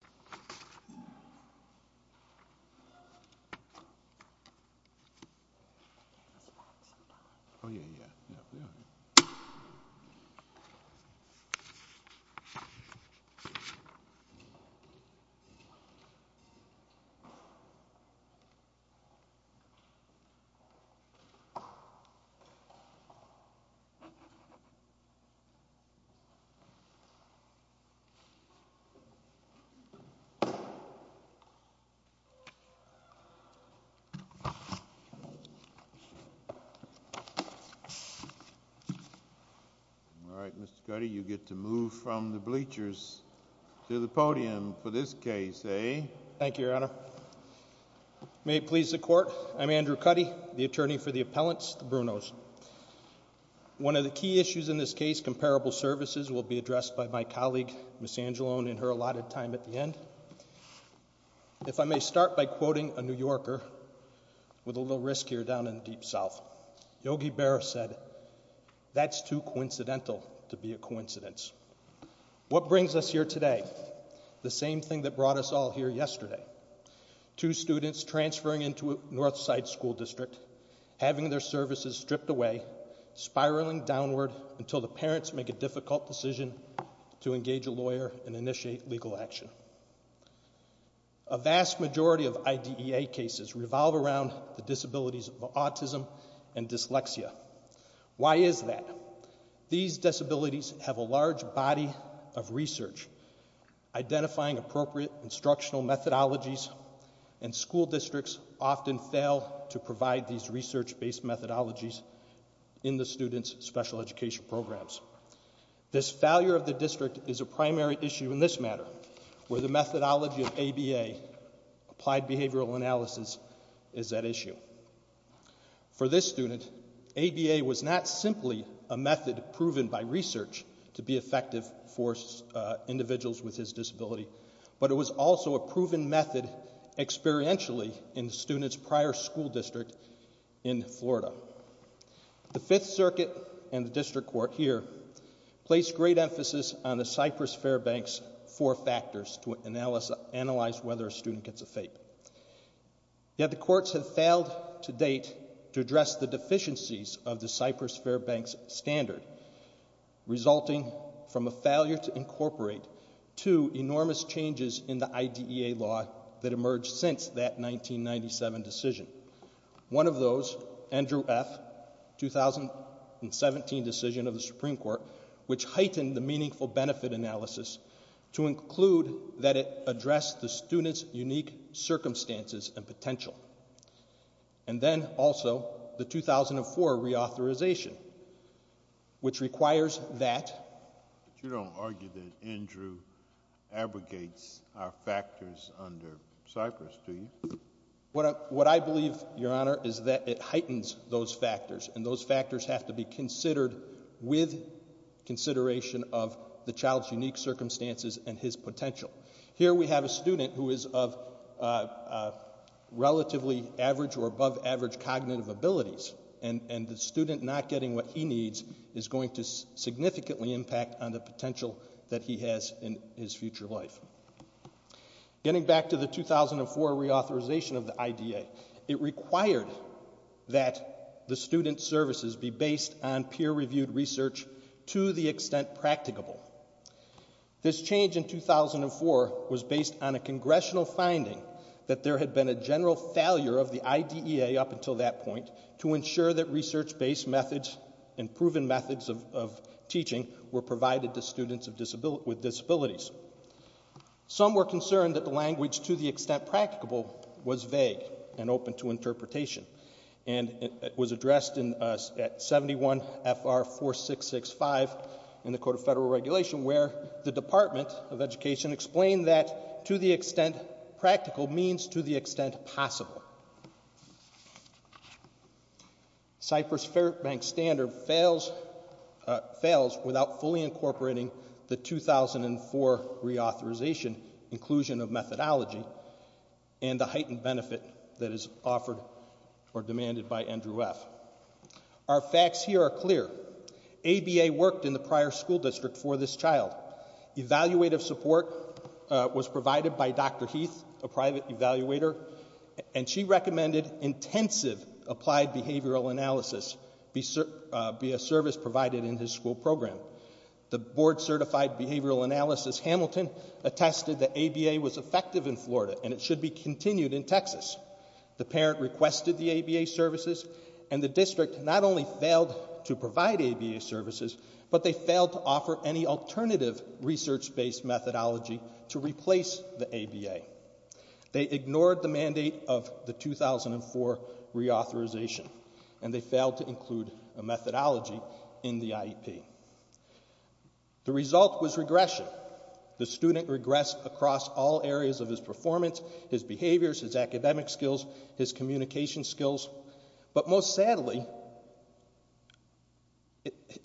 1 10 11 12 13 14 15 16 17 18 19 20 21 22 23 24 25 26 27 28 29 30 39 40 41 42 43 44 45 46 47 48 49 50 51 52 53 54 55 56 57 58 59 68 69 70 71 72 73 74 75 76 77 78 79 80 81 82 83 84 85 86 97 98 99 11 14 15 16 17 18 19 20 21 22 23 24 25 26 7 7 6 5 4 3 2 1 0 0 1 0 0 0 0 4 5 You don't argue that Andrew abrogates our factors under CYPRUS, do you? What I believe, your Honor, is that it heightens those factors and those factors have to be considered with consideration of the child's unique circumstances and his potential Here we have a studentogenous who is of relatively average or above average cognitive abilities, and the student not getting what he needs is going to significantly impact on the potential that he has in his future life. Getting back to the 2004 reauthorization of the IDEA, it required that the student services be based on peer-reviewed research to the extent practicable. This change in 2004 was based on a congressional finding that there had been a general failure of the IDEA up until that point to ensure that research based methods and proven methods of teaching were provided to students with disabilities. Some were concerned that the language to the extent practicable was vague and open to interpretation, and it was addressed at 71 FR 4665 in the Code of Federal Regulation where the Department of Education explained that to the extent practical means to the extent possible. Cypress Fairbank Standard fails without fully incorporating the 2004 reauthorization inclusion of methodology and the heightened benefit that is offered or demanded by Andrew F. Our facts here are clear. ABA worked in the prior school district for this child. Evaluative support was provided by Dr. Heath, a private school teacher, and she recommended intensive applied behavioral analysis be a service provided in his school program. The board certified behavioral analysis Hamilton attested that ABA was effective in Florida and it should be continued in Texas. The parent requested the ABA services, and the district not only failed to provide ABA services, but they failed to offer any alternative research based methodology to replace the ABA. They ignored the mandate of the 2004 reauthorization, and they failed to include a methodology in the IEP. The result was regression. The student regressed across all areas of his performance, his behaviors, his academic skills, his communication skills, but most sadly,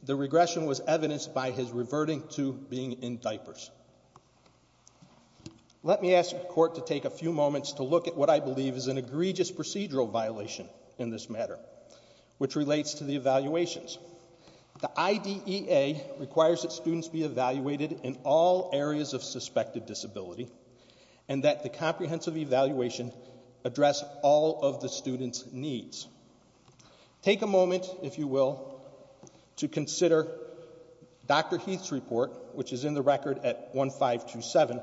the regression was evidenced by his reverting to being in diapers. Let me ask the court to take a few moments to look at what I believe is an egregious procedural violation in this matter, which relates to the evaluations. The IDEA requires that students be evaluated in all areas of suspected disability, and that the comprehensive evaluation address all of the student's needs. Take a moment, if you will, to consider Dr. Heath's record at 1527,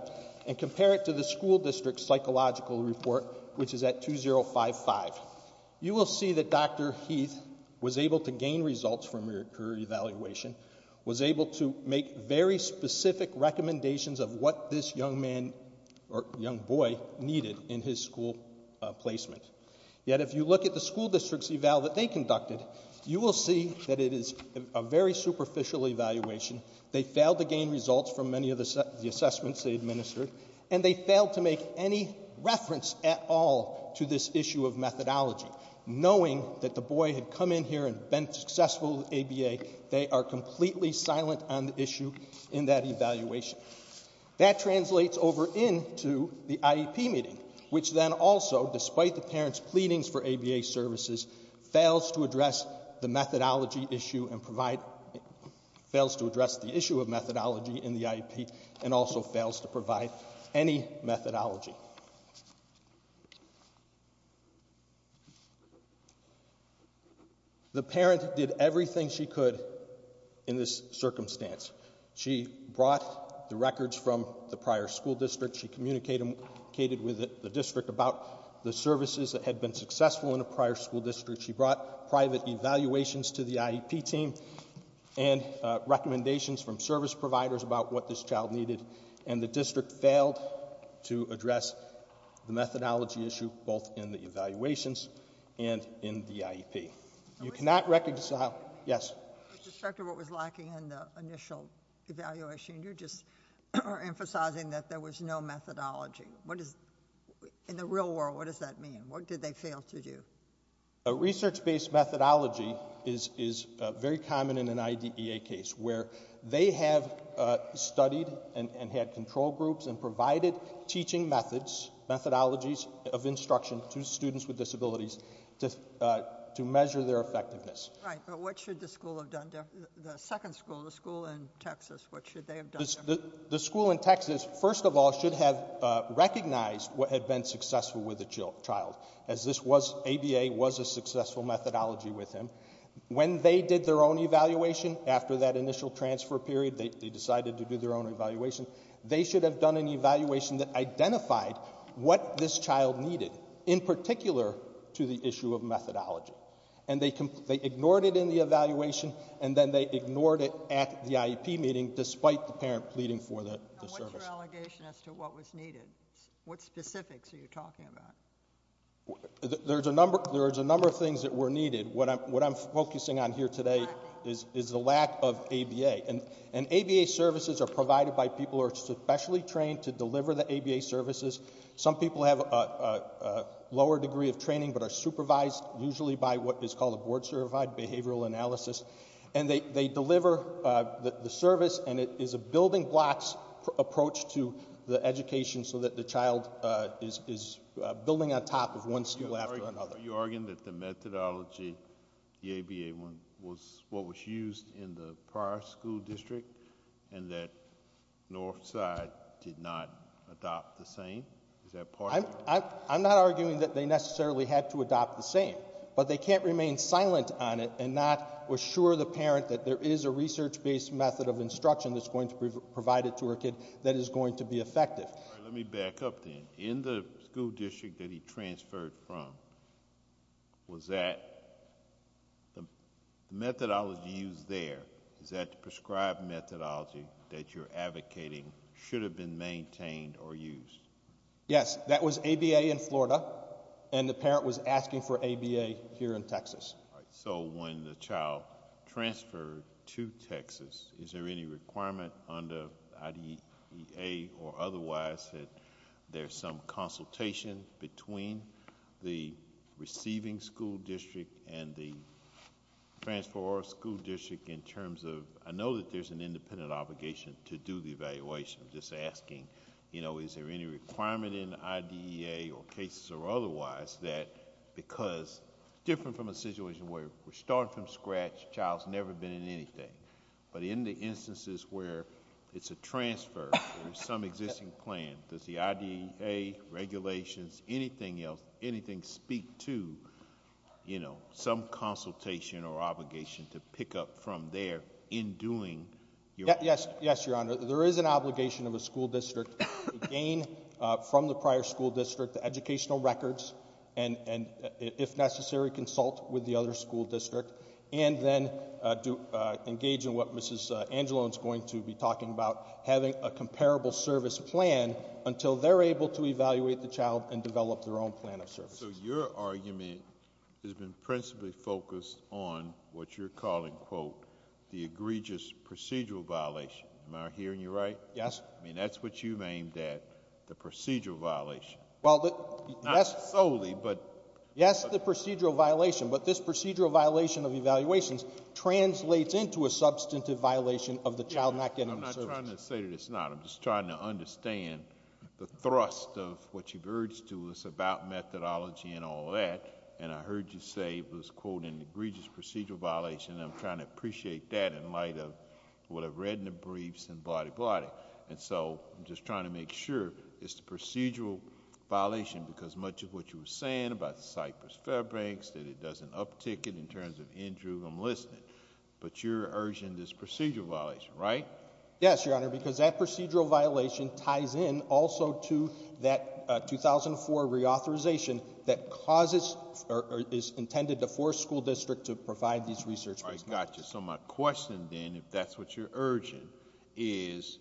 and compare it to the school district's psychological report, which is at 2055. You will see that Dr. Heath was able to gain results from her evaluation, was able to make very specific recommendations of what this young boy needed in his school placement. Yet, if you look at the school district's eval that they conducted, you will see that it is a very superficial evaluation. They failed to gain results from many of the assessments they administered, and they failed to make any reference at all to this issue of methodology, knowing that the boy had come in here and been successful with ABA. They are completely silent on the issue in that evaluation. That translates over into the IEP meeting, which then also, despite the parent's pleadings for ABA services, fails to address the methodology issue in the IEP, and also fails to provide any methodology. The parent did everything she could in this circumstance. She brought the records from the prior school district. She communicated with the district about the services that had been successful in a prior school district. She brought private evaluations to the IEP team. And recommendations from service providers about what this child needed. And the district failed to address the methodology issue, both in the evaluations and in the IEP. You cannot reconcile-yes? With respect to what was lacking in the initial evaluation, you're just emphasizing that there was no methodology. In the real world, what does that mean? What did they fail to do? A research-based methodology is very common in an IDEA case, where they have studied and had control groups and provided teaching methods, methodologies of instruction to students with disabilities to measure their effectiveness. Right, but what should the school have done? The second school, the school in Texas, what should they have done? The school in Texas first of all should have recognized what had been successful with the child, as this was-ABA was a successful methodology with him. When they did their own evaluation, after that initial transfer period, they decided to do their own evaluation, they should have done an evaluation that identified what this child needed, in particular to the issue of methodology. And they ignored it in the evaluation, and then they ignored it at the IEP meeting, despite the parent pleading for the service. What's your allegation as to what was needed? What specifics are you talking about? There's a number of things that were needed. What I'm focusing on here today is the lack of ABA. And ABA services are provided by people who are specially trained to deliver the ABA services. Some people have a lower degree of training, but are supervised, usually by what is called a board-certified behavioral analysis. And they deliver the service, and it is a building blocks approach to the education, so that the child is building on top of one school after another. Are you arguing that the methodology, the ABA one, was what was used in the prior school district, and that Northside did not adopt the same? Is that part of it? I'm not arguing that they necessarily had to adopt the same. But they can't remain silent on it, and not assure the parent that there is a research-based method of instruction that's going to be provided to her kid that is going to be effective. Let me back up then. In the school district that he transferred from, was that the methodology used there, is that the prescribed methodology that you're advocating should have been maintained or used? Yes. That was ABA in Florida, and the parent was asking for ABA here in Texas. So when the child transferred to Texas, is there any requirement under IDEA or otherwise that there's some consultation between the receiving school district and the transfer or school district in terms of... I know that there's an independent obligation to do the evaluation, just asking is there any requirement in IDEA or cases or otherwise that because different from a situation where we're never been in anything, but in the instances where it's a transfer or some existing plan, does the IDEA regulations, anything else, anything speak to some consultation or obligation to pick up from there in doing your... Yes, Your Honor. There is an obligation of a school district to gain from the prior school district the educational records, and if necessary, consult with the other school district, and then engage in what Ms. Angelone's going to be talking about, having a comparable service plan until they're able to evaluate the child and develop their own plan of services. So your argument has been principally focused on what you're calling, quote, the egregious procedural violation. Am I hearing you right? Yes. I mean, that's what you've aimed at, the procedural violation. Not solely, but... Yes, the procedural violation of evaluations translates into a substantive violation of the child not getting the services. I'm not trying to say that it's not. I'm just trying to understand the thrust of what you've urged to us about methodology and all that, and I heard you say it was, quote, an egregious procedural violation, and I'm trying to appreciate that in light of what I've read in the briefs and blah-di-blah-di, and so I'm just trying to make sure it's a procedural violation because much of what you were saying about Cypress Fairbanks, that it doesn't uptick it in terms of Andrew, I'm listening, but you're urging this procedural violation, right? Yes, Your Honor, because that procedural violation ties in also to that 2004 reauthorization that causes, or is intended to force school districts to provide these research... I got you. So my question then, if that's what you're urging, is,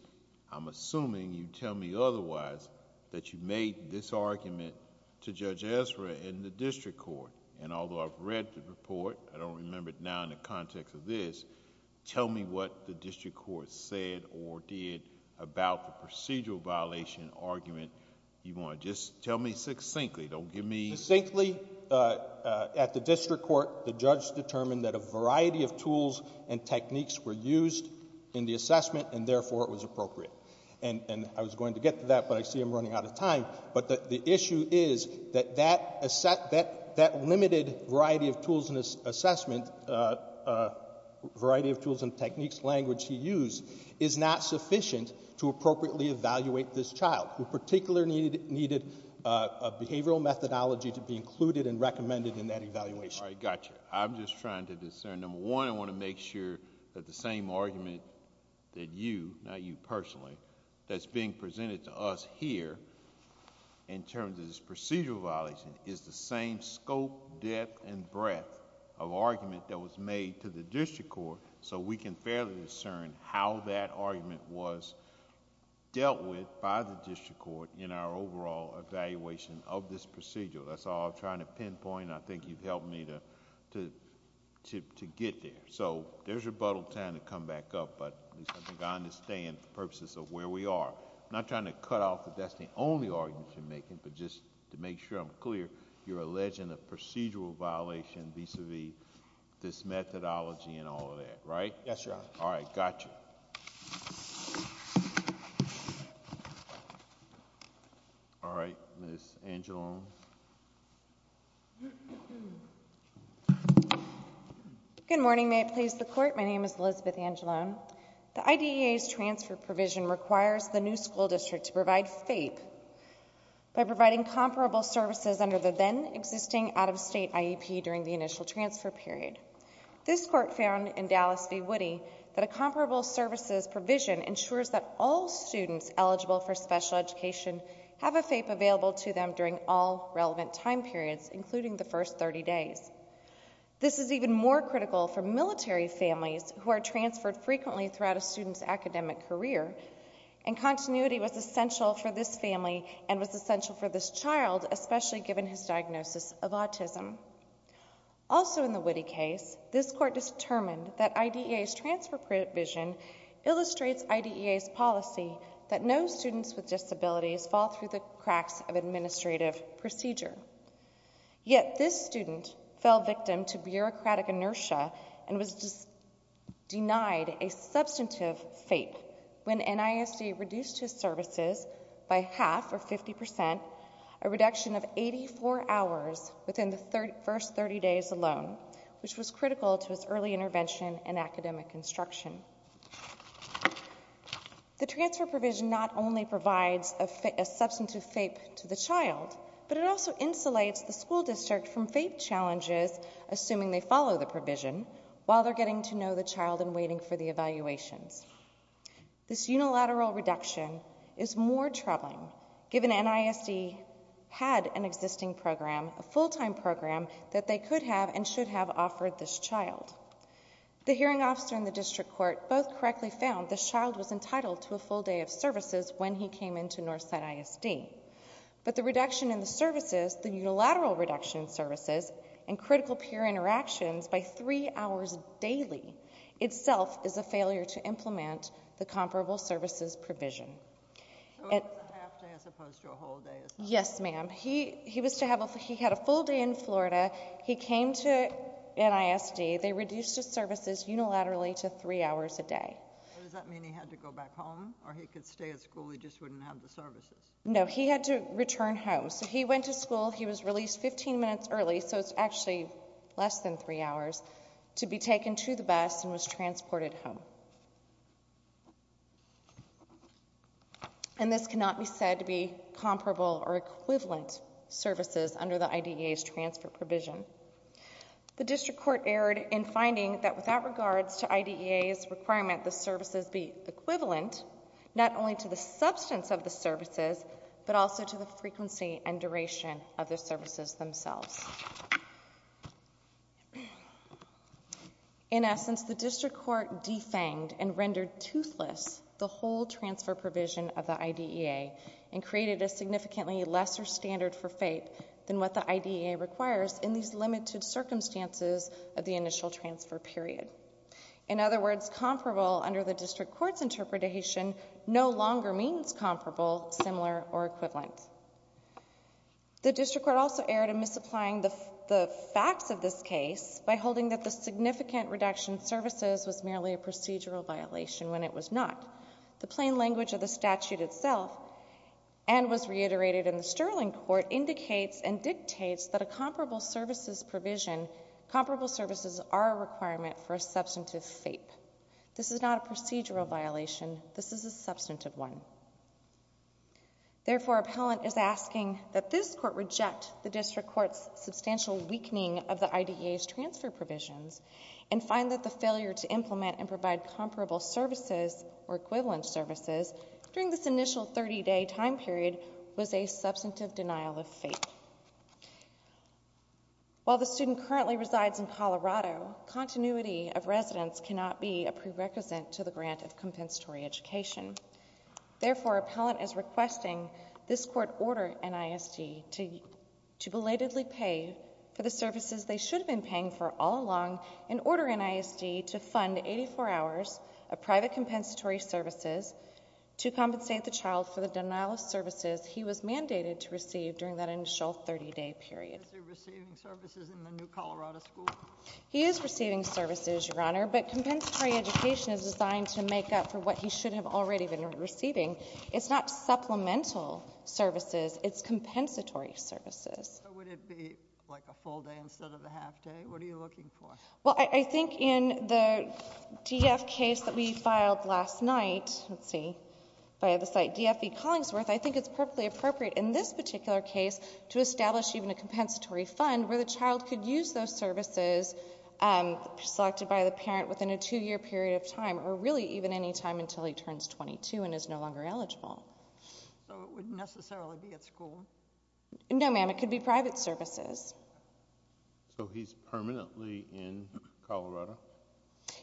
to Judge Ezra in the district court, and although I've read the report, I don't remember it now in the context of this, tell me what the district court said or did about the procedural violation argument. You want to just tell me succinctly, don't give me... Succinctly, at the district court, the judge determined that a variety of tools and techniques were used in the assessment, and therefore it was appropriate, and I was going to get to that, but I see I'm running out of time, but the issue is that limited variety of tools in his assessment, variety of tools and techniques, language he used, is not sufficient to appropriately evaluate this child, who particularly needed a behavioral methodology to be included and recommended in that evaluation. I got you. I'm just trying to discern, number one, I want to make sure that the same argument that you, not you personally, that's being presented to us here, in terms of this procedural violation, is the same scope, depth, and breadth of argument that was made to the district court, so we can fairly discern how that argument was dealt with by the district court in our overall evaluation of this procedural. That's all I'm trying to pinpoint, and I think you've helped me to get there. There's rebuttal time to come back up, but at least I think I understand the purposes of where we are. I'm not trying to cut out that that's the only argument you're making, but just to make sure I'm clear, you're alleging a procedural violation vis-a-vis this methodology and all of that, right? Yes, Your Honor. All right, got you. All right, Ms. Angelone. Good morning. May it please the Court. My name is Elizabeth Angelone. The IDEA's transfer provision requires the new school district to provide FAPE by providing comparable services under the then-existing out-of-state IEP during the initial transfer period. This Court found in Dallas v. Woody that a comparable services provision ensures that all students eligible for special education have a FAPE available to them during all relevant time periods, including the first 30 days. This is even more critical for military families who are transferred frequently throughout a student's academic career, and continuity was essential for this family and was essential for this child, especially given his diagnosis of autism. Also in the Woody case, this Court determined that IDEA's transfer provision illustrates IDEA's policy that no students with disabilities fall through the cracks of administrative procedure. Yet this student fell victim to bureaucratic inertia and was denied a substantive FAPE when NISD reduced his services by half, or 50 percent, a reduction of 84 hours within the first 30 days alone, which was critical to his early intervention and academic instruction. The transfer provision not only provides a substantive FAPE to the child, but it also insulates the school district from FAPE challenges, assuming they follow the provision, while they're getting to know the child and waiting for the evaluations. This unilateral reduction is more troubling, given NISD had an existing program, a full-time program, that they could have and should have offered this child. The hearing officer and the District Court both correctly found this child was entitled to a full day of services when he came into Northside ISD. But the reduction in the services, the unilateral reduction in services, and critical peer interactions by three hours daily itself is a failure to implement the comparable services provision. Yes, ma'am. He had a full day in Florida. He came to NISD. They reduced his services unilaterally to three hours a day. Does that mean he had to go back home, or he could stay at school, he just wouldn't have the services? No, he had to return home. So he went to school, he was released 15 minutes early, so it's actually less than three hours, to be taken to the bus and was transported home. And this cannot be said to be comparable or equivalent services under the IDEA's transfer provision. The District Court erred in finding that without regards to IDEA's requirement the services be equivalent not only to the substance of the services, but also to the frequency and duration of the services themselves. In essence, the District Court defanged and rendered toothless the whole transfer provision of the IDEA and created a significantly lesser standard for fate than what the IDEA requires in these limited circumstances of the initial transfer period. In other words, comparable under the District Court's interpretation no longer means comparable similar or equivalent. The District Court also erred in misapplying the facts of this case by holding that the significant reduction services was merely a procedural violation when it was not. The plain language of the statute itself, and was reiterated in the Sterling Court, indicates and dictates that a comparable services provision, comparable services are a requirement for a substantive fate. This is not a procedural violation, this is a substantive one. Therefore, appellant is asking that this Court reject the District Court's substantial weakening of the IDEA's transfer provisions and find that the failure to implement and provide comparable services or equivalent services during this initial 30-day time period was a substantive denial of fate. While the student currently resides in Colorado, continuity of residence cannot be a prerequisite to the grant of compensatory education. Therefore, appellant is requesting this Court order NISD to belatedly pay for the services they should have been paying for all along and order NISD to fund 84 hours of private compensatory services to compensate the child for the denial of services he was mandated to receive during that initial 30-day period. He is receiving services, Your Honor, but compensatory education is designed to make up for what he should have already been receiving. It's not supplemental services, it's compensatory services. Well, I think in the DF case that we filed last night, let's see, by the way, it would be perfectly appropriate in this particular case to establish even a compensatory fund where the child could use those services selected by the parent within a two-year period of time or really even any time until he turns 22 and is no longer eligible. So it wouldn't necessarily be at school? No, ma'am, it could be private services. So he's permanently in Colorado?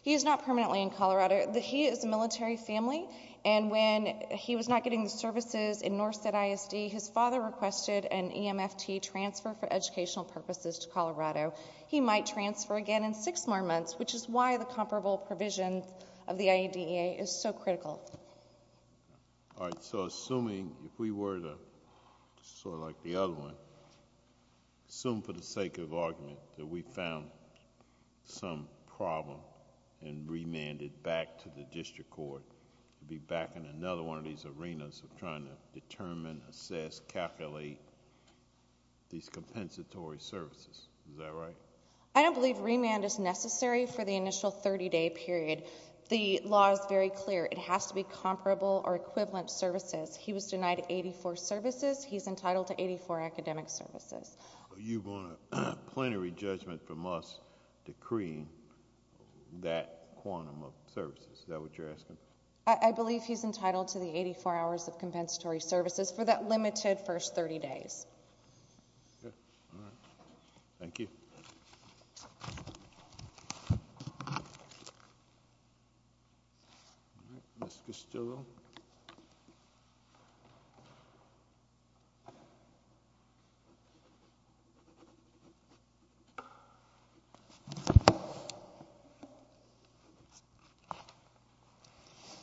He is not permanently in Colorado. He is a military family and when he was not getting the services in Norset ISD, his father requested an EMFT transfer for educational purposes to Colorado. He might transfer again in six more months, which is why the comparable provision of the IEDEA is so critical. All right, so assuming if we were to, sort of like the other one, assume for the sake of argument that we found some problem and remanded back to the IEDEA in another one of these arenas of trying to determine, assess, calculate these compensatory services. Is that right? I don't believe remand is necessary for the initial 30-day period. The law is very clear. It has to be comparable or equivalent services. He was denied 84 services. He's entitled to 84 academic services. You want a plenary judgment from us decreeing that quantum of services. I believe he's entitled to the 84 hours of compensatory services for that limited first 30 days. Thank you.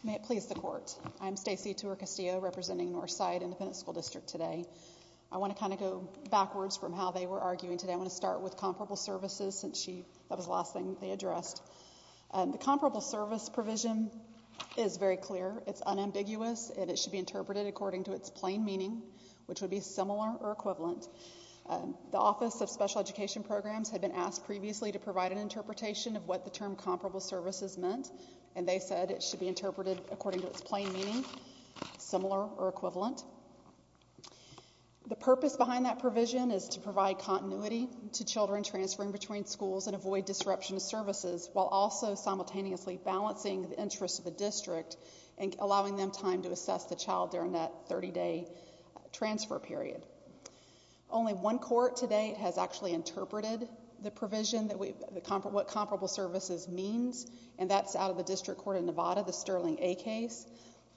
May it please the court. I'm Stacey Tour-Castillo representing Northside Independent School District today. I want to kind of go backwards from how they were arguing today. I want to start with comparable services since that was the last thing they addressed. The comparable service provision is very clear. It's unambiguous and it should be interpreted according to its plain meaning which would be similar or equivalent. The Office of Special Education Programs had been asked previously to provide an interpretation of what the term said. It should be interpreted according to its plain meaning, similar or equivalent. The purpose behind that provision is to provide continuity to children transferring between schools and avoid disruption of services while also simultaneously balancing the interests of the district and allowing them time to assess the child during that 30-day transfer period. Only one court today has actually interpreted the provision, what comparable services means and that's out of the District Court of Nevada, the Sterling A case.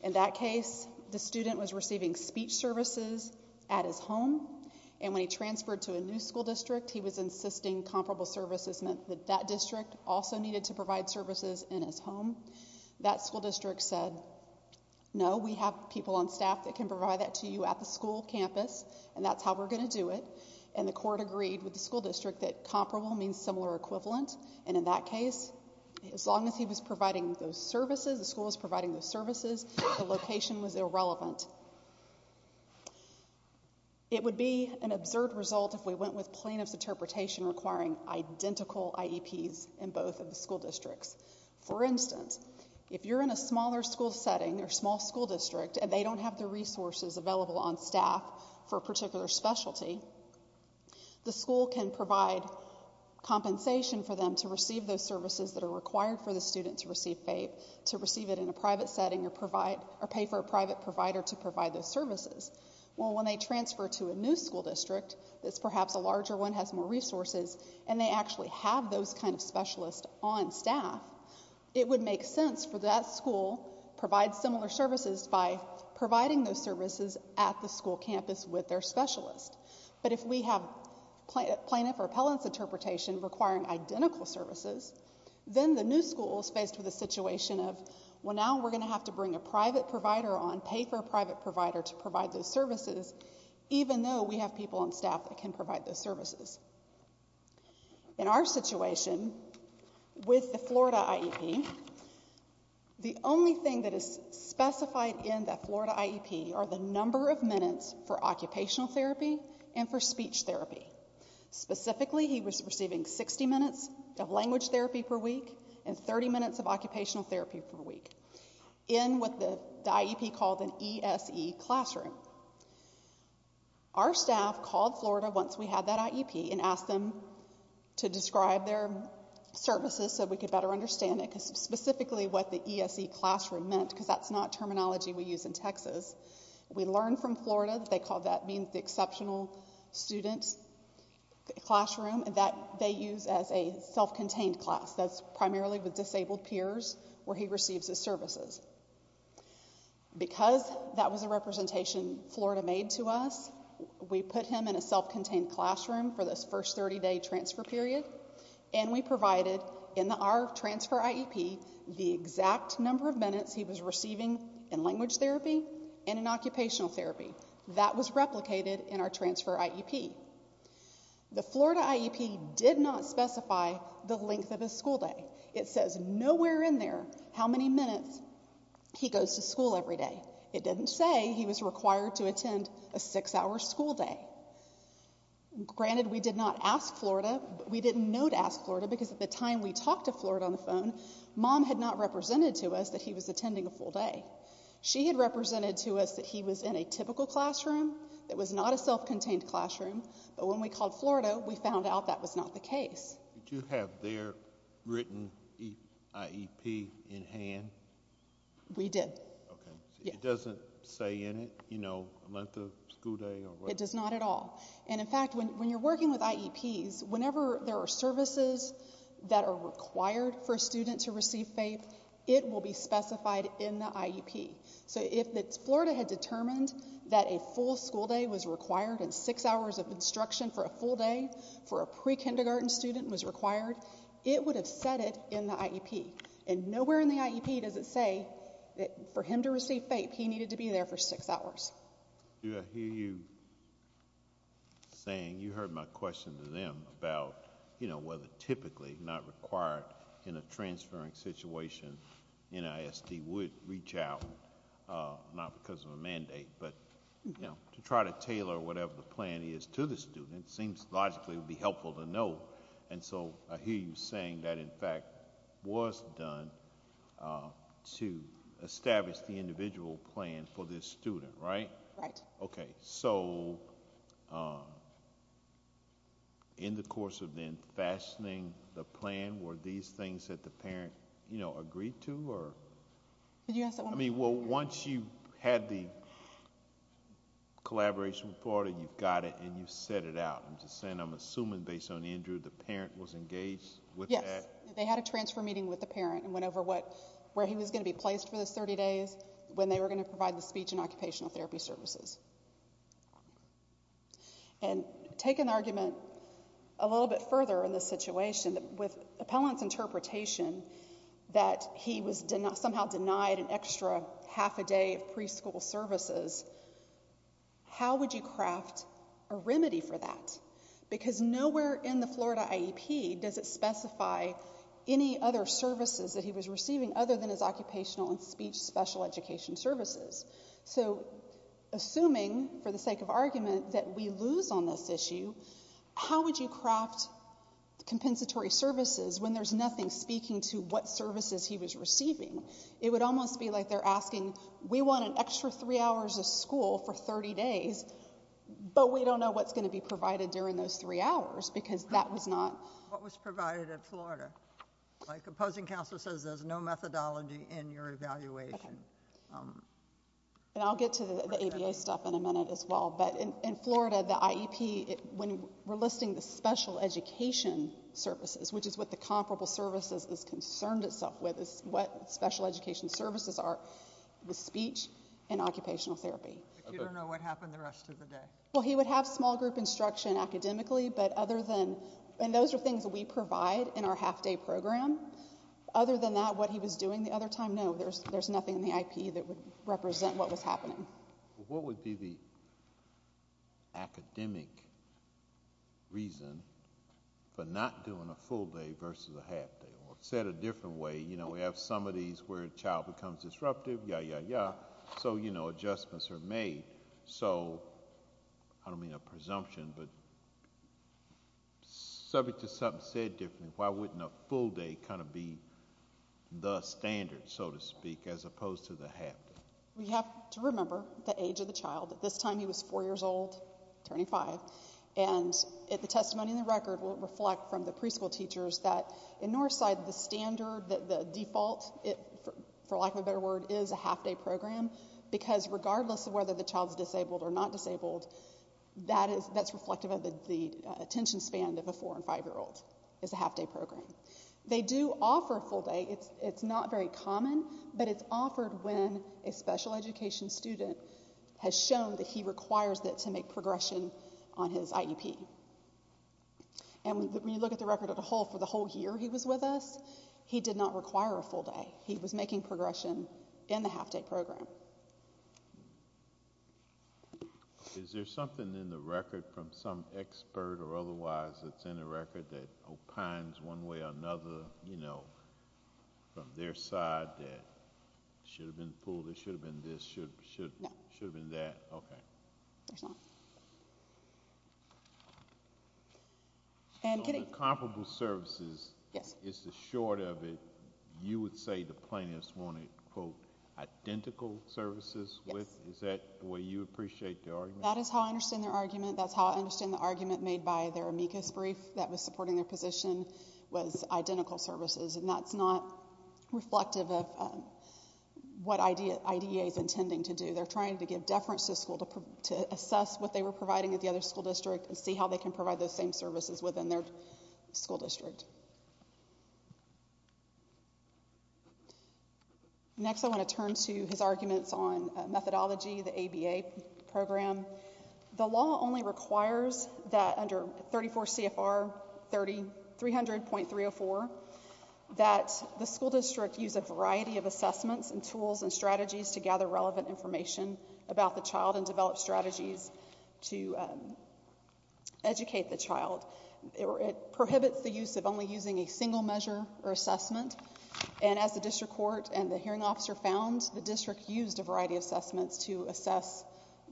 In that case, the student was receiving speech services at his home and when he transferred to a new school district, he was insisting comparable services meant that that district also needed to provide services in his home. That school district said, no, we have people on staff that can provide that to you at the school campus and that's how we're going to do it and the court agreed with the school district that comparable means similar or equivalent and in that case, as long as he was providing those services, the school was providing those services, the location was irrelevant. It would be an absurd result if we went with plaintiff's interpretation requiring identical IEPs in both of the school districts. For instance, if you're in a smaller school setting or small school district and they don't have the resources available on staff for a particular specialty, the school can provide compensation for them to receive those services that are required for the student to receive FAPE, to receive it in a private setting or pay for a private provider to provide those services. Well, when they transfer to a new school district that's perhaps a larger one, has more resources and they actually have those kind of specialists on staff, it would make sense for that school to provide similar services by providing those services at the school campus with their specialist but if we have plaintiff or appellant's interpretation requiring identical services, then the new school is faced with a situation of, well now we're going to have to bring a private provider on, pay for a private provider to provide those services even though we have people on staff that can provide those services. In our situation, with the Florida IEP, the only thing that is specified in the Florida IEP are the number of minutes for occupational therapy and for speech therapy. Specifically, he was receiving 60 minutes of language therapy per week and 30 minutes of occupational therapy per week in what the IEP called an ESE classroom. Our staff called Florida once we had that IEP and asked them to describe their services so we could better understand it, specifically what the ESE classroom meant because that's not terminology we use in Texas. We learned from a professional student's classroom that they use as a self-contained class. That's primarily with disabled peers where he receives his services. Because that was a representation Florida made to us, we put him in a self-contained classroom for this first 30-day transfer period and we provided in our transfer IEP the exact number of minutes he was receiving in language therapy and in occupational therapy. That was replicated in our transfer IEP. The Florida IEP did not specify the length of his school day. It says nowhere in there how many minutes he goes to school every day. It didn't say he was required to attend a six-hour school day. Granted, we did not ask Florida. We didn't know to ask Florida because at the time we talked to Florida on the phone, mom had not represented to us that he was attending a full day. She had represented to us that he was in a typical classroom that was not a self-contained classroom, but when we called Florida, we found out that was not the case. Did you have their written IEP in hand? We did. It doesn't say in it, you know, length of school day? It does not at all. In fact, when you're working with IEPs, whenever there are services that are required for a student to receive FAPE, it will be specified in the IEP. So if Florida had determined that a full school day was required and six hours of instruction for a full day for a pre-kindergarten student was required, it would have said it in the IEP, and nowhere in the IEP does it say that for him to receive FAPE, he needed to be there for six hours. Do I hear you saying, you heard my question to them about, you know, whether typically not required in a transferring situation, NISD would reach out, not because of a mandate, but to try to tailor whatever the plan is to the student seems logically would be helpful to know, and so I hear you saying that in fact was done to establish the individual plan for this student, right? Right. Okay, so in the course of then fashioning the plan, were these things that the parent, you know, agreed to, or? I mean, well, once you had the collaboration with Florida, you've got it, and you've set it out. I'm just saying, I'm assuming based on Andrew, the parent was engaged with that? Yes, they had a transfer meeting with the parent and went over what, where he was going to be placed for the 30 days, when they were going to provide the speech and occupational therapy services. And take an argument a little bit further in this situation, with Appellant's interpretation that he was somehow denied an extra half a day of preschool services, how would you craft a remedy for that? Because nowhere in the Florida IEP does it specify any other services that he was receiving other than his occupational and speech special education services. So, assuming, for the sake of argument, that we lose on this issue, how would you craft compensatory services when there's nothing speaking to what services he was receiving? It would almost be like they're asking, we want an extra three hours of school for 30 days, but we don't know what's going to be provided during those three hours, because that was not... What was provided at Florida? My opposing counsel says there's no methodology in your evaluation. And I'll get to the ABA stuff in a minute as well, but in Florida, the IEP, when we're listing the special education services, which is what the comparable services is concerned itself with, is what special education services are with speech and occupational therapy. But you don't know what happened the rest of the day? Well, he would have small group instruction academically, but other than... And those are things that we provide in our half-day program. Other than that, what he was doing the other time, no, there's nothing in the IEP that would represent what was happening. What would be the academic reason for not doing a full day versus a half day? Or said a different way, you know, we have some of these where a child becomes disruptive, ya, ya, ya, so, you know, adjustments are made. So, I don't mean a presumption, but subject to something said differently, why wouldn't a full day kind of be the standard, so to speak, as opposed to the half day? We have to remember the age of the child. This time he was four years old, turning five, and the testimony in the record will reflect from the preschool teachers that in Northside, the standard, the default, for lack of a better word, is a half-day program, because regardless of whether the child's disabled or not disabled, that's reflective of the attention span of a four and five-year-old, is a half-day program. They do offer a full day. It's not very common, but it's offered when a special education student has shown that he requires it to make progression on his IEP. And when you look at the record as a whole, for the whole year he was with us, he did not require a full day. He was making progression in the half-day program. Is there something in the record from some expert or otherwise that's in the record that opines one way or another, you know, from their side that should have been pulled, it should have been this, it should have been that? There's not. On comparable services, is the short of it, you would say the plaintiffs wanted, quote, identical services with? Is that the way you appreciate the argument? That is how I understand their argument. That's how I understand the argument made by their amicus brief that was supporting their position was identical services, and that's not reflective of what IDEA is intending to do. They're trying to give deference to the school to assess what they were providing at the other school district and see how they can provide those same services within their school district. Next, I want to turn to his arguments on methodology, the ABA program. The law only requires that under 34 CFR 300.304 that the school district use a variety of assessments and tools and strategies to gather relevant information about the child and develop strategies to educate the child. It prohibits the use of only using a single measure or assessment, and as the district court and the hearing officer found, the district used a variety of assessments to assess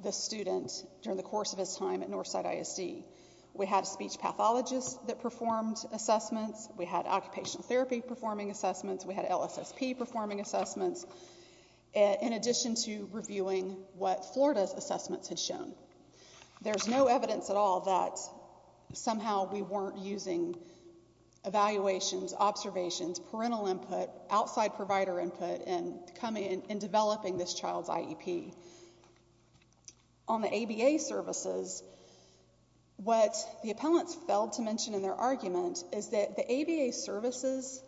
the student during the course of his time at Northside ISD. We had a speech pathologist that performed assessments. We had occupational therapy performing assessments. We had LSSP performing assessments, in addition to reviewing what Florida's assessments had shown. There's no evidence at all that somehow we weren't using evaluations, observations, parental input, outside provider input in developing this child's IEP. On the ABA services, what the appellants failed to mention in their argument is that the ABA services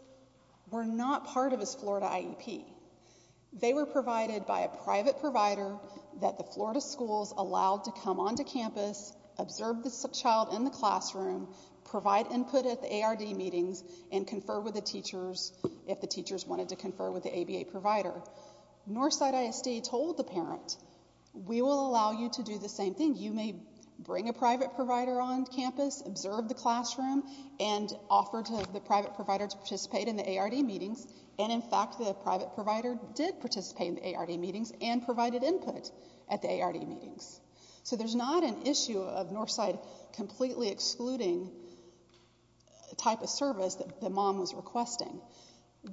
were not part of his Florida IEP. They were provided by a private provider that the Florida schools allowed to come onto campus, observe the child in the classroom, provide input at the ARD meetings, and confer with the teachers if the teachers wanted to confer with the ABA provider. Northside ISD told the parent, we will allow you to do the same thing. You may bring a private provider on campus, observe the classroom, and offer the private provider to participate in the ARD meetings. In fact, the private provider did participate in the ARD meetings and provided input at the ARD meetings. There's not an issue of Northside completely excluding the type of service that the mom was requesting.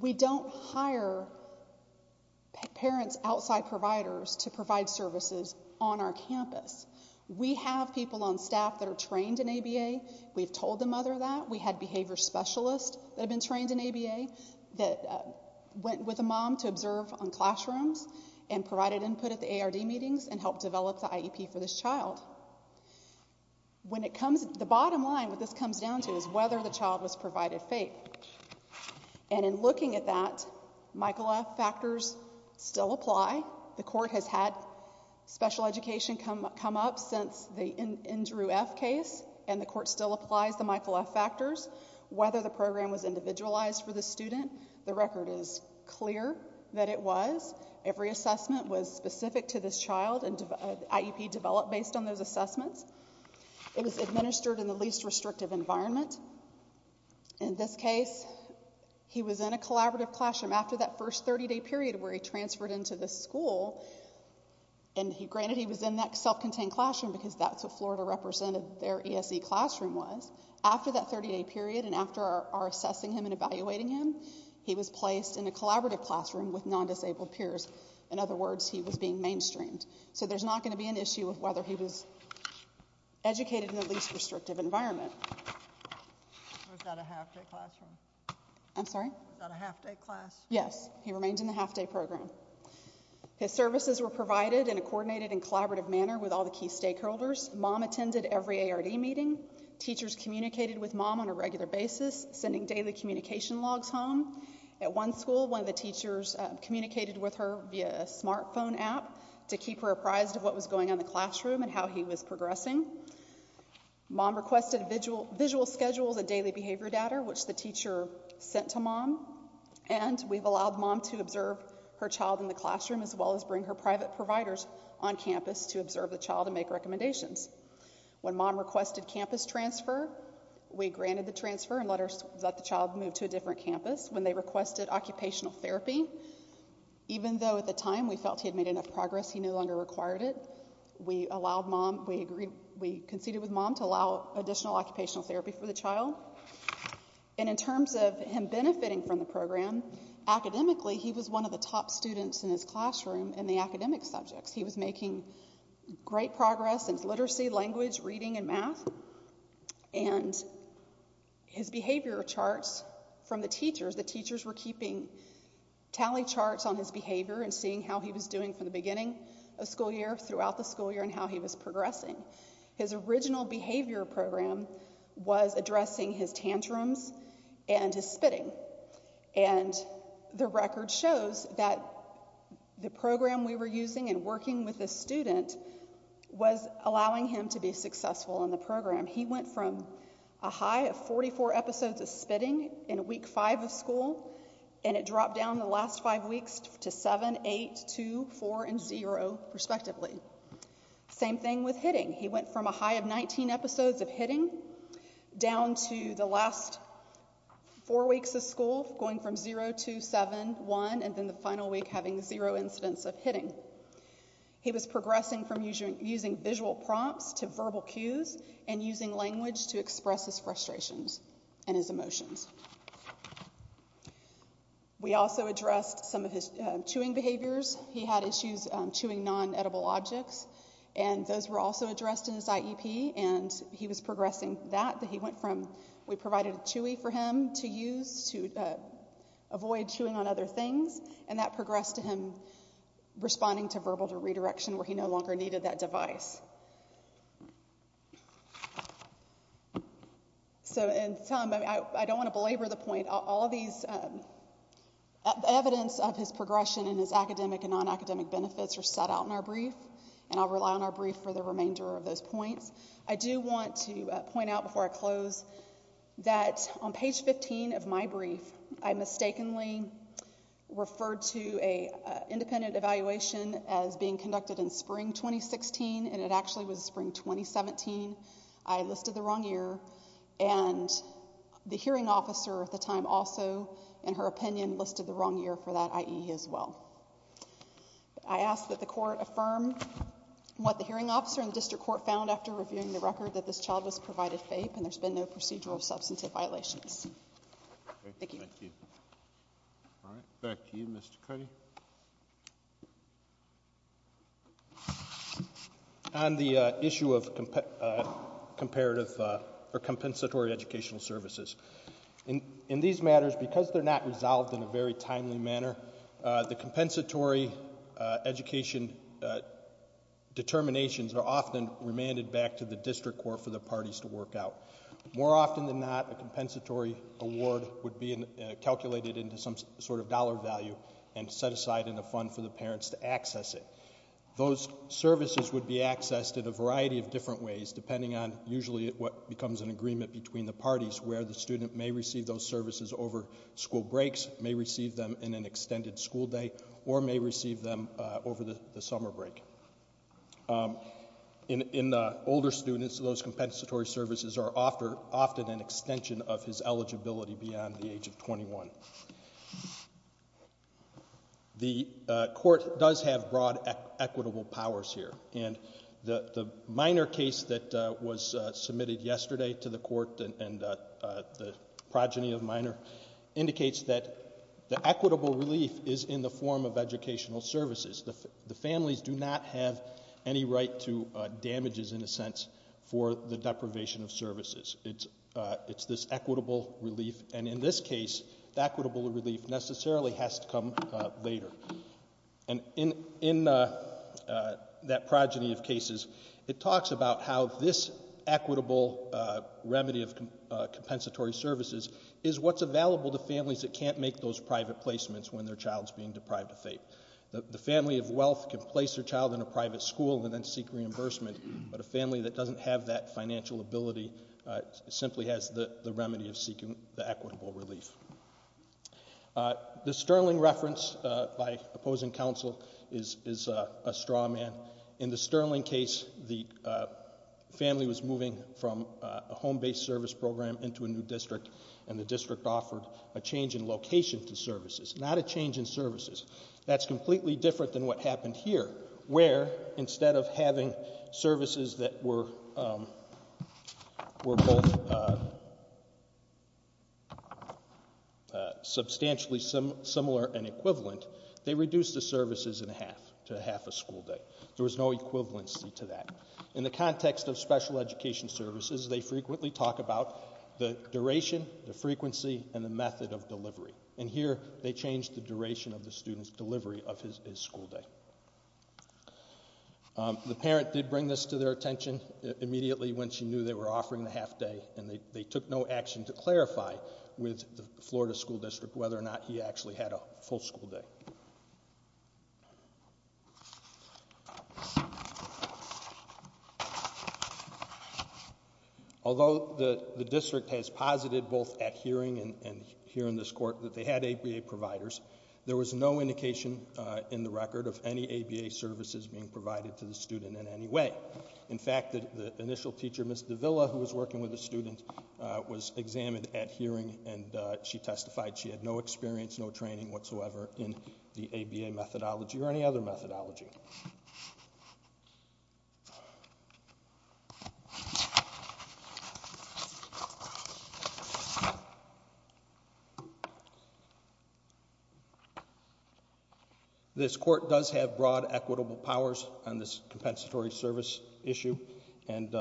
We don't hire parents outside providers to provide services on our campus. We have people on staff that are trained in ABA. We've told the mother that. We had behavior specialists that have been trained in ABA that went with the mom to observe on classrooms and provided input at the ARD meetings and helped develop the IEP for this child. The bottom line what this comes down to is whether the child was provided faith. And in looking at that, Michael F. factors still apply. The court has had special education come up since the Andrew F. case and the court still applies the Michael F. factors. Whether the program was individualized for the student, the record is clear that it was. Every assessment was specific to this child and IEP developed based on those assessments. It was administered in the least restrictive environment. In this case, he was in a collaborative classroom after that first 30-day period where he transferred into the school. And granted he was in that self-contained classroom because that's what Florida represented their ESE classroom was. After that 30-day period and after our assessing him and evaluating him, he was placed in a collaborative classroom with non-disabled peers. In other words, he was being mainstreamed. So there's not going to be an issue of whether he was mainstreamed or not. Yes, he remained in the half-day program. His services were provided in a coordinated and collaborative manner with all the key stakeholders. Mom attended every ARD meeting. Teachers communicated with Mom on a regular basis, sending daily communication logs home. At one school, one of the teachers communicated with her via a smartphone app to keep her apprised of what was going on in the classroom and how he was progressing. Mom requested visual schedules and daily behavior data, which the teacher sent to Mom. And we've allowed Mom to observe her child in the classroom as well as bring her private providers on campus to observe the child and make recommendations. When Mom requested campus transfer, we granted the transfer and let the child move to a different campus. When they requested occupational therapy, even though at the time we felt he had made enough progress, he no longer required it, we allowed Mom, we conceded with Mom to allow additional occupational therapy for the child. And in terms of him benefiting from the program, academically he was one of the top students in his classroom in the academic subjects. He was making great progress in literacy, language, reading, and math. And his behavior charts from the teachers, the teachers were keeping tally charts on his behavior and seeing how he was doing from the beginning of school year throughout the school year and how he was progressing. His original behavior program was addressing his tantrums and his spitting. And the record shows that the program we were using and working with the student was allowing him to be successful in the program. He went from a high of 44 episodes of spitting in week five of school, and it dropped down the last five weeks to seven, eight, two, four, and zero, respectively. Same thing with hitting. He went from a high of 19 episodes of hitting down to the last four weeks of school going from zero to seven, one, and then the final week having zero incidents of hitting. He was progressing from using visual prompts to verbal cues and using language to express his frustrations and his emotions. We also addressed some of his chewing behaviors. He had issues chewing non-edible objects and those were also addressed in his IEP, and he was progressing that. We provided a chewy for him to use to avoid chewing on other things, and that progressed to him responding to verbal redirection where he no longer needed that device. So, and Tom, I don't want to belabor the point. All of these evidence of his progression and his academic and non-academic benefits are set out in our brief, and I'll rely on our brief for the remainder of those points. I do want to point out before I close that on page 15 of my brief, I mistakenly referred to an independent evaluation as being conducted in spring 2016, and it actually was spring 2017. I listed the wrong year, and the hearing officer at the time also, in her opinion, listed the wrong year for that IE as well. I ask that the court affirm what the hearing officer and the district court found after reviewing the record that this child was provided FAPE, and there's been no procedural substantive violations. Thank you. All right. Back to you, Mr. Cuddy. Thank you. On the issue of compensatory educational services, in these matters because they're not resolved in a very timely manner, the compensatory education determinations are often remanded back to the district court for the parties to work out. More often than not, a compensatory award would be calculated into some sort of dollar value and set aside in a fund for the parents to access it. Those services would be accessed in a variety of different ways, depending on usually what becomes an agreement between the parties, where the student may receive those services over school breaks, may receive them in an extended school day, or may receive them over the summer break. In older students, those compensatory services are often an extension of his eligibility beyond the age of 21. The court does have broad equitable powers here, and the Minor case that was submitted yesterday to the court, and the progeny of Minor indicates that the equitable relief is in the form of educational services. The families do not have any right to damages, in a sense, for the deprivation of services. It's this equitable relief, and in this case, the equitable relief necessarily has to come later. In that progeny of cases, it talks about how this equitable remedy of compensatory services is what's available to families that can't make those private placements when their child's being deprived of faith. The family of wealth can place their child in a private school and then seek reimbursement, but a family that doesn't have that financial ability simply has the remedy of seeking the equitable relief. The Sterling reference by opposing counsel is a straw man. In the Sterling case, the family was moving from a home-based service program into a new district, and the district offered a change in location to services, not a change in services. That's completely different than what happened here, where, instead of having services that were both substantially similar and equivalent, they reduced the services in half to half a school day. There was no equivalency to that. In the context of special education services, they frequently talk about the duration, the frequency, and the method of delivery. And here, they changed the duration of the student's delivery of his school day. The parent did bring this to their attention immediately when she knew they were offering the half day, and they took no action to clarify with the Florida School District whether or not he actually had a full school day. Although the district has posited, both at hearing and here in this court, that they had ABA providers, there was no evidence of any ABA services being provided to the student in any way. In fact, the initial teacher, Ms. Davila, who was working with the student, was examined at hearing, and she testified she had no experience, no training whatsoever in the ABA methodology or any other methodology. This court does have broad equitable powers on this compensatory service issue, and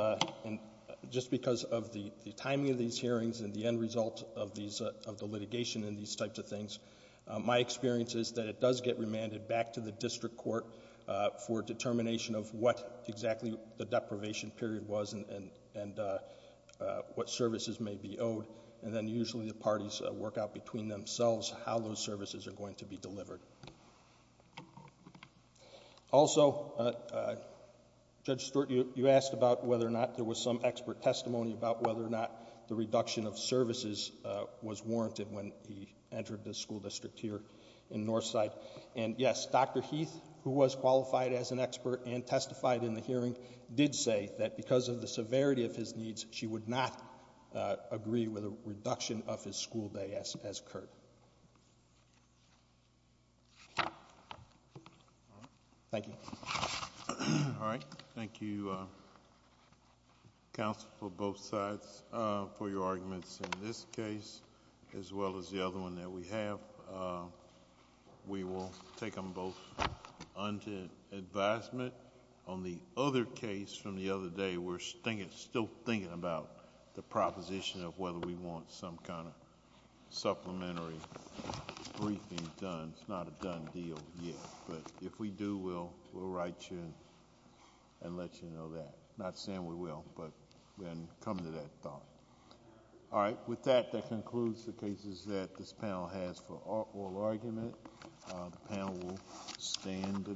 just because of the timing of these hearings and the end result of the litigation and these types of things, my experience is that it does get remanded back to the district court And I think that's a good thing. It's a good thing for determination of what exactly the deprivation period was and what services may be owed, and then usually the parties work out between themselves how those services are going to be delivered. Also, Judge Stewart, you asked about whether or not there was some expert testimony about whether or not the reduction of services was warranted when he entered the school district here in Northside, and yes, Dr. Heath, who was qualified as an expert and testified in the hearing, did say that because of the severity of his needs, she would not agree with a reduction of his school day as occurred. Thank you. Thank you, counsel, for both sides, for your arguments in this case as well as the other one that we have. We will take them both under advisement. On the other case from the other day, we're still thinking about the proposition of whether we want some kind of supplementary briefing done. It's not a done deal yet, but if we do, we'll write you and let you know that. Not saying we will, but we'll come to that thought. All right, with that, that concludes the cases that this panel has for oral argument. The panel will stand adjourned.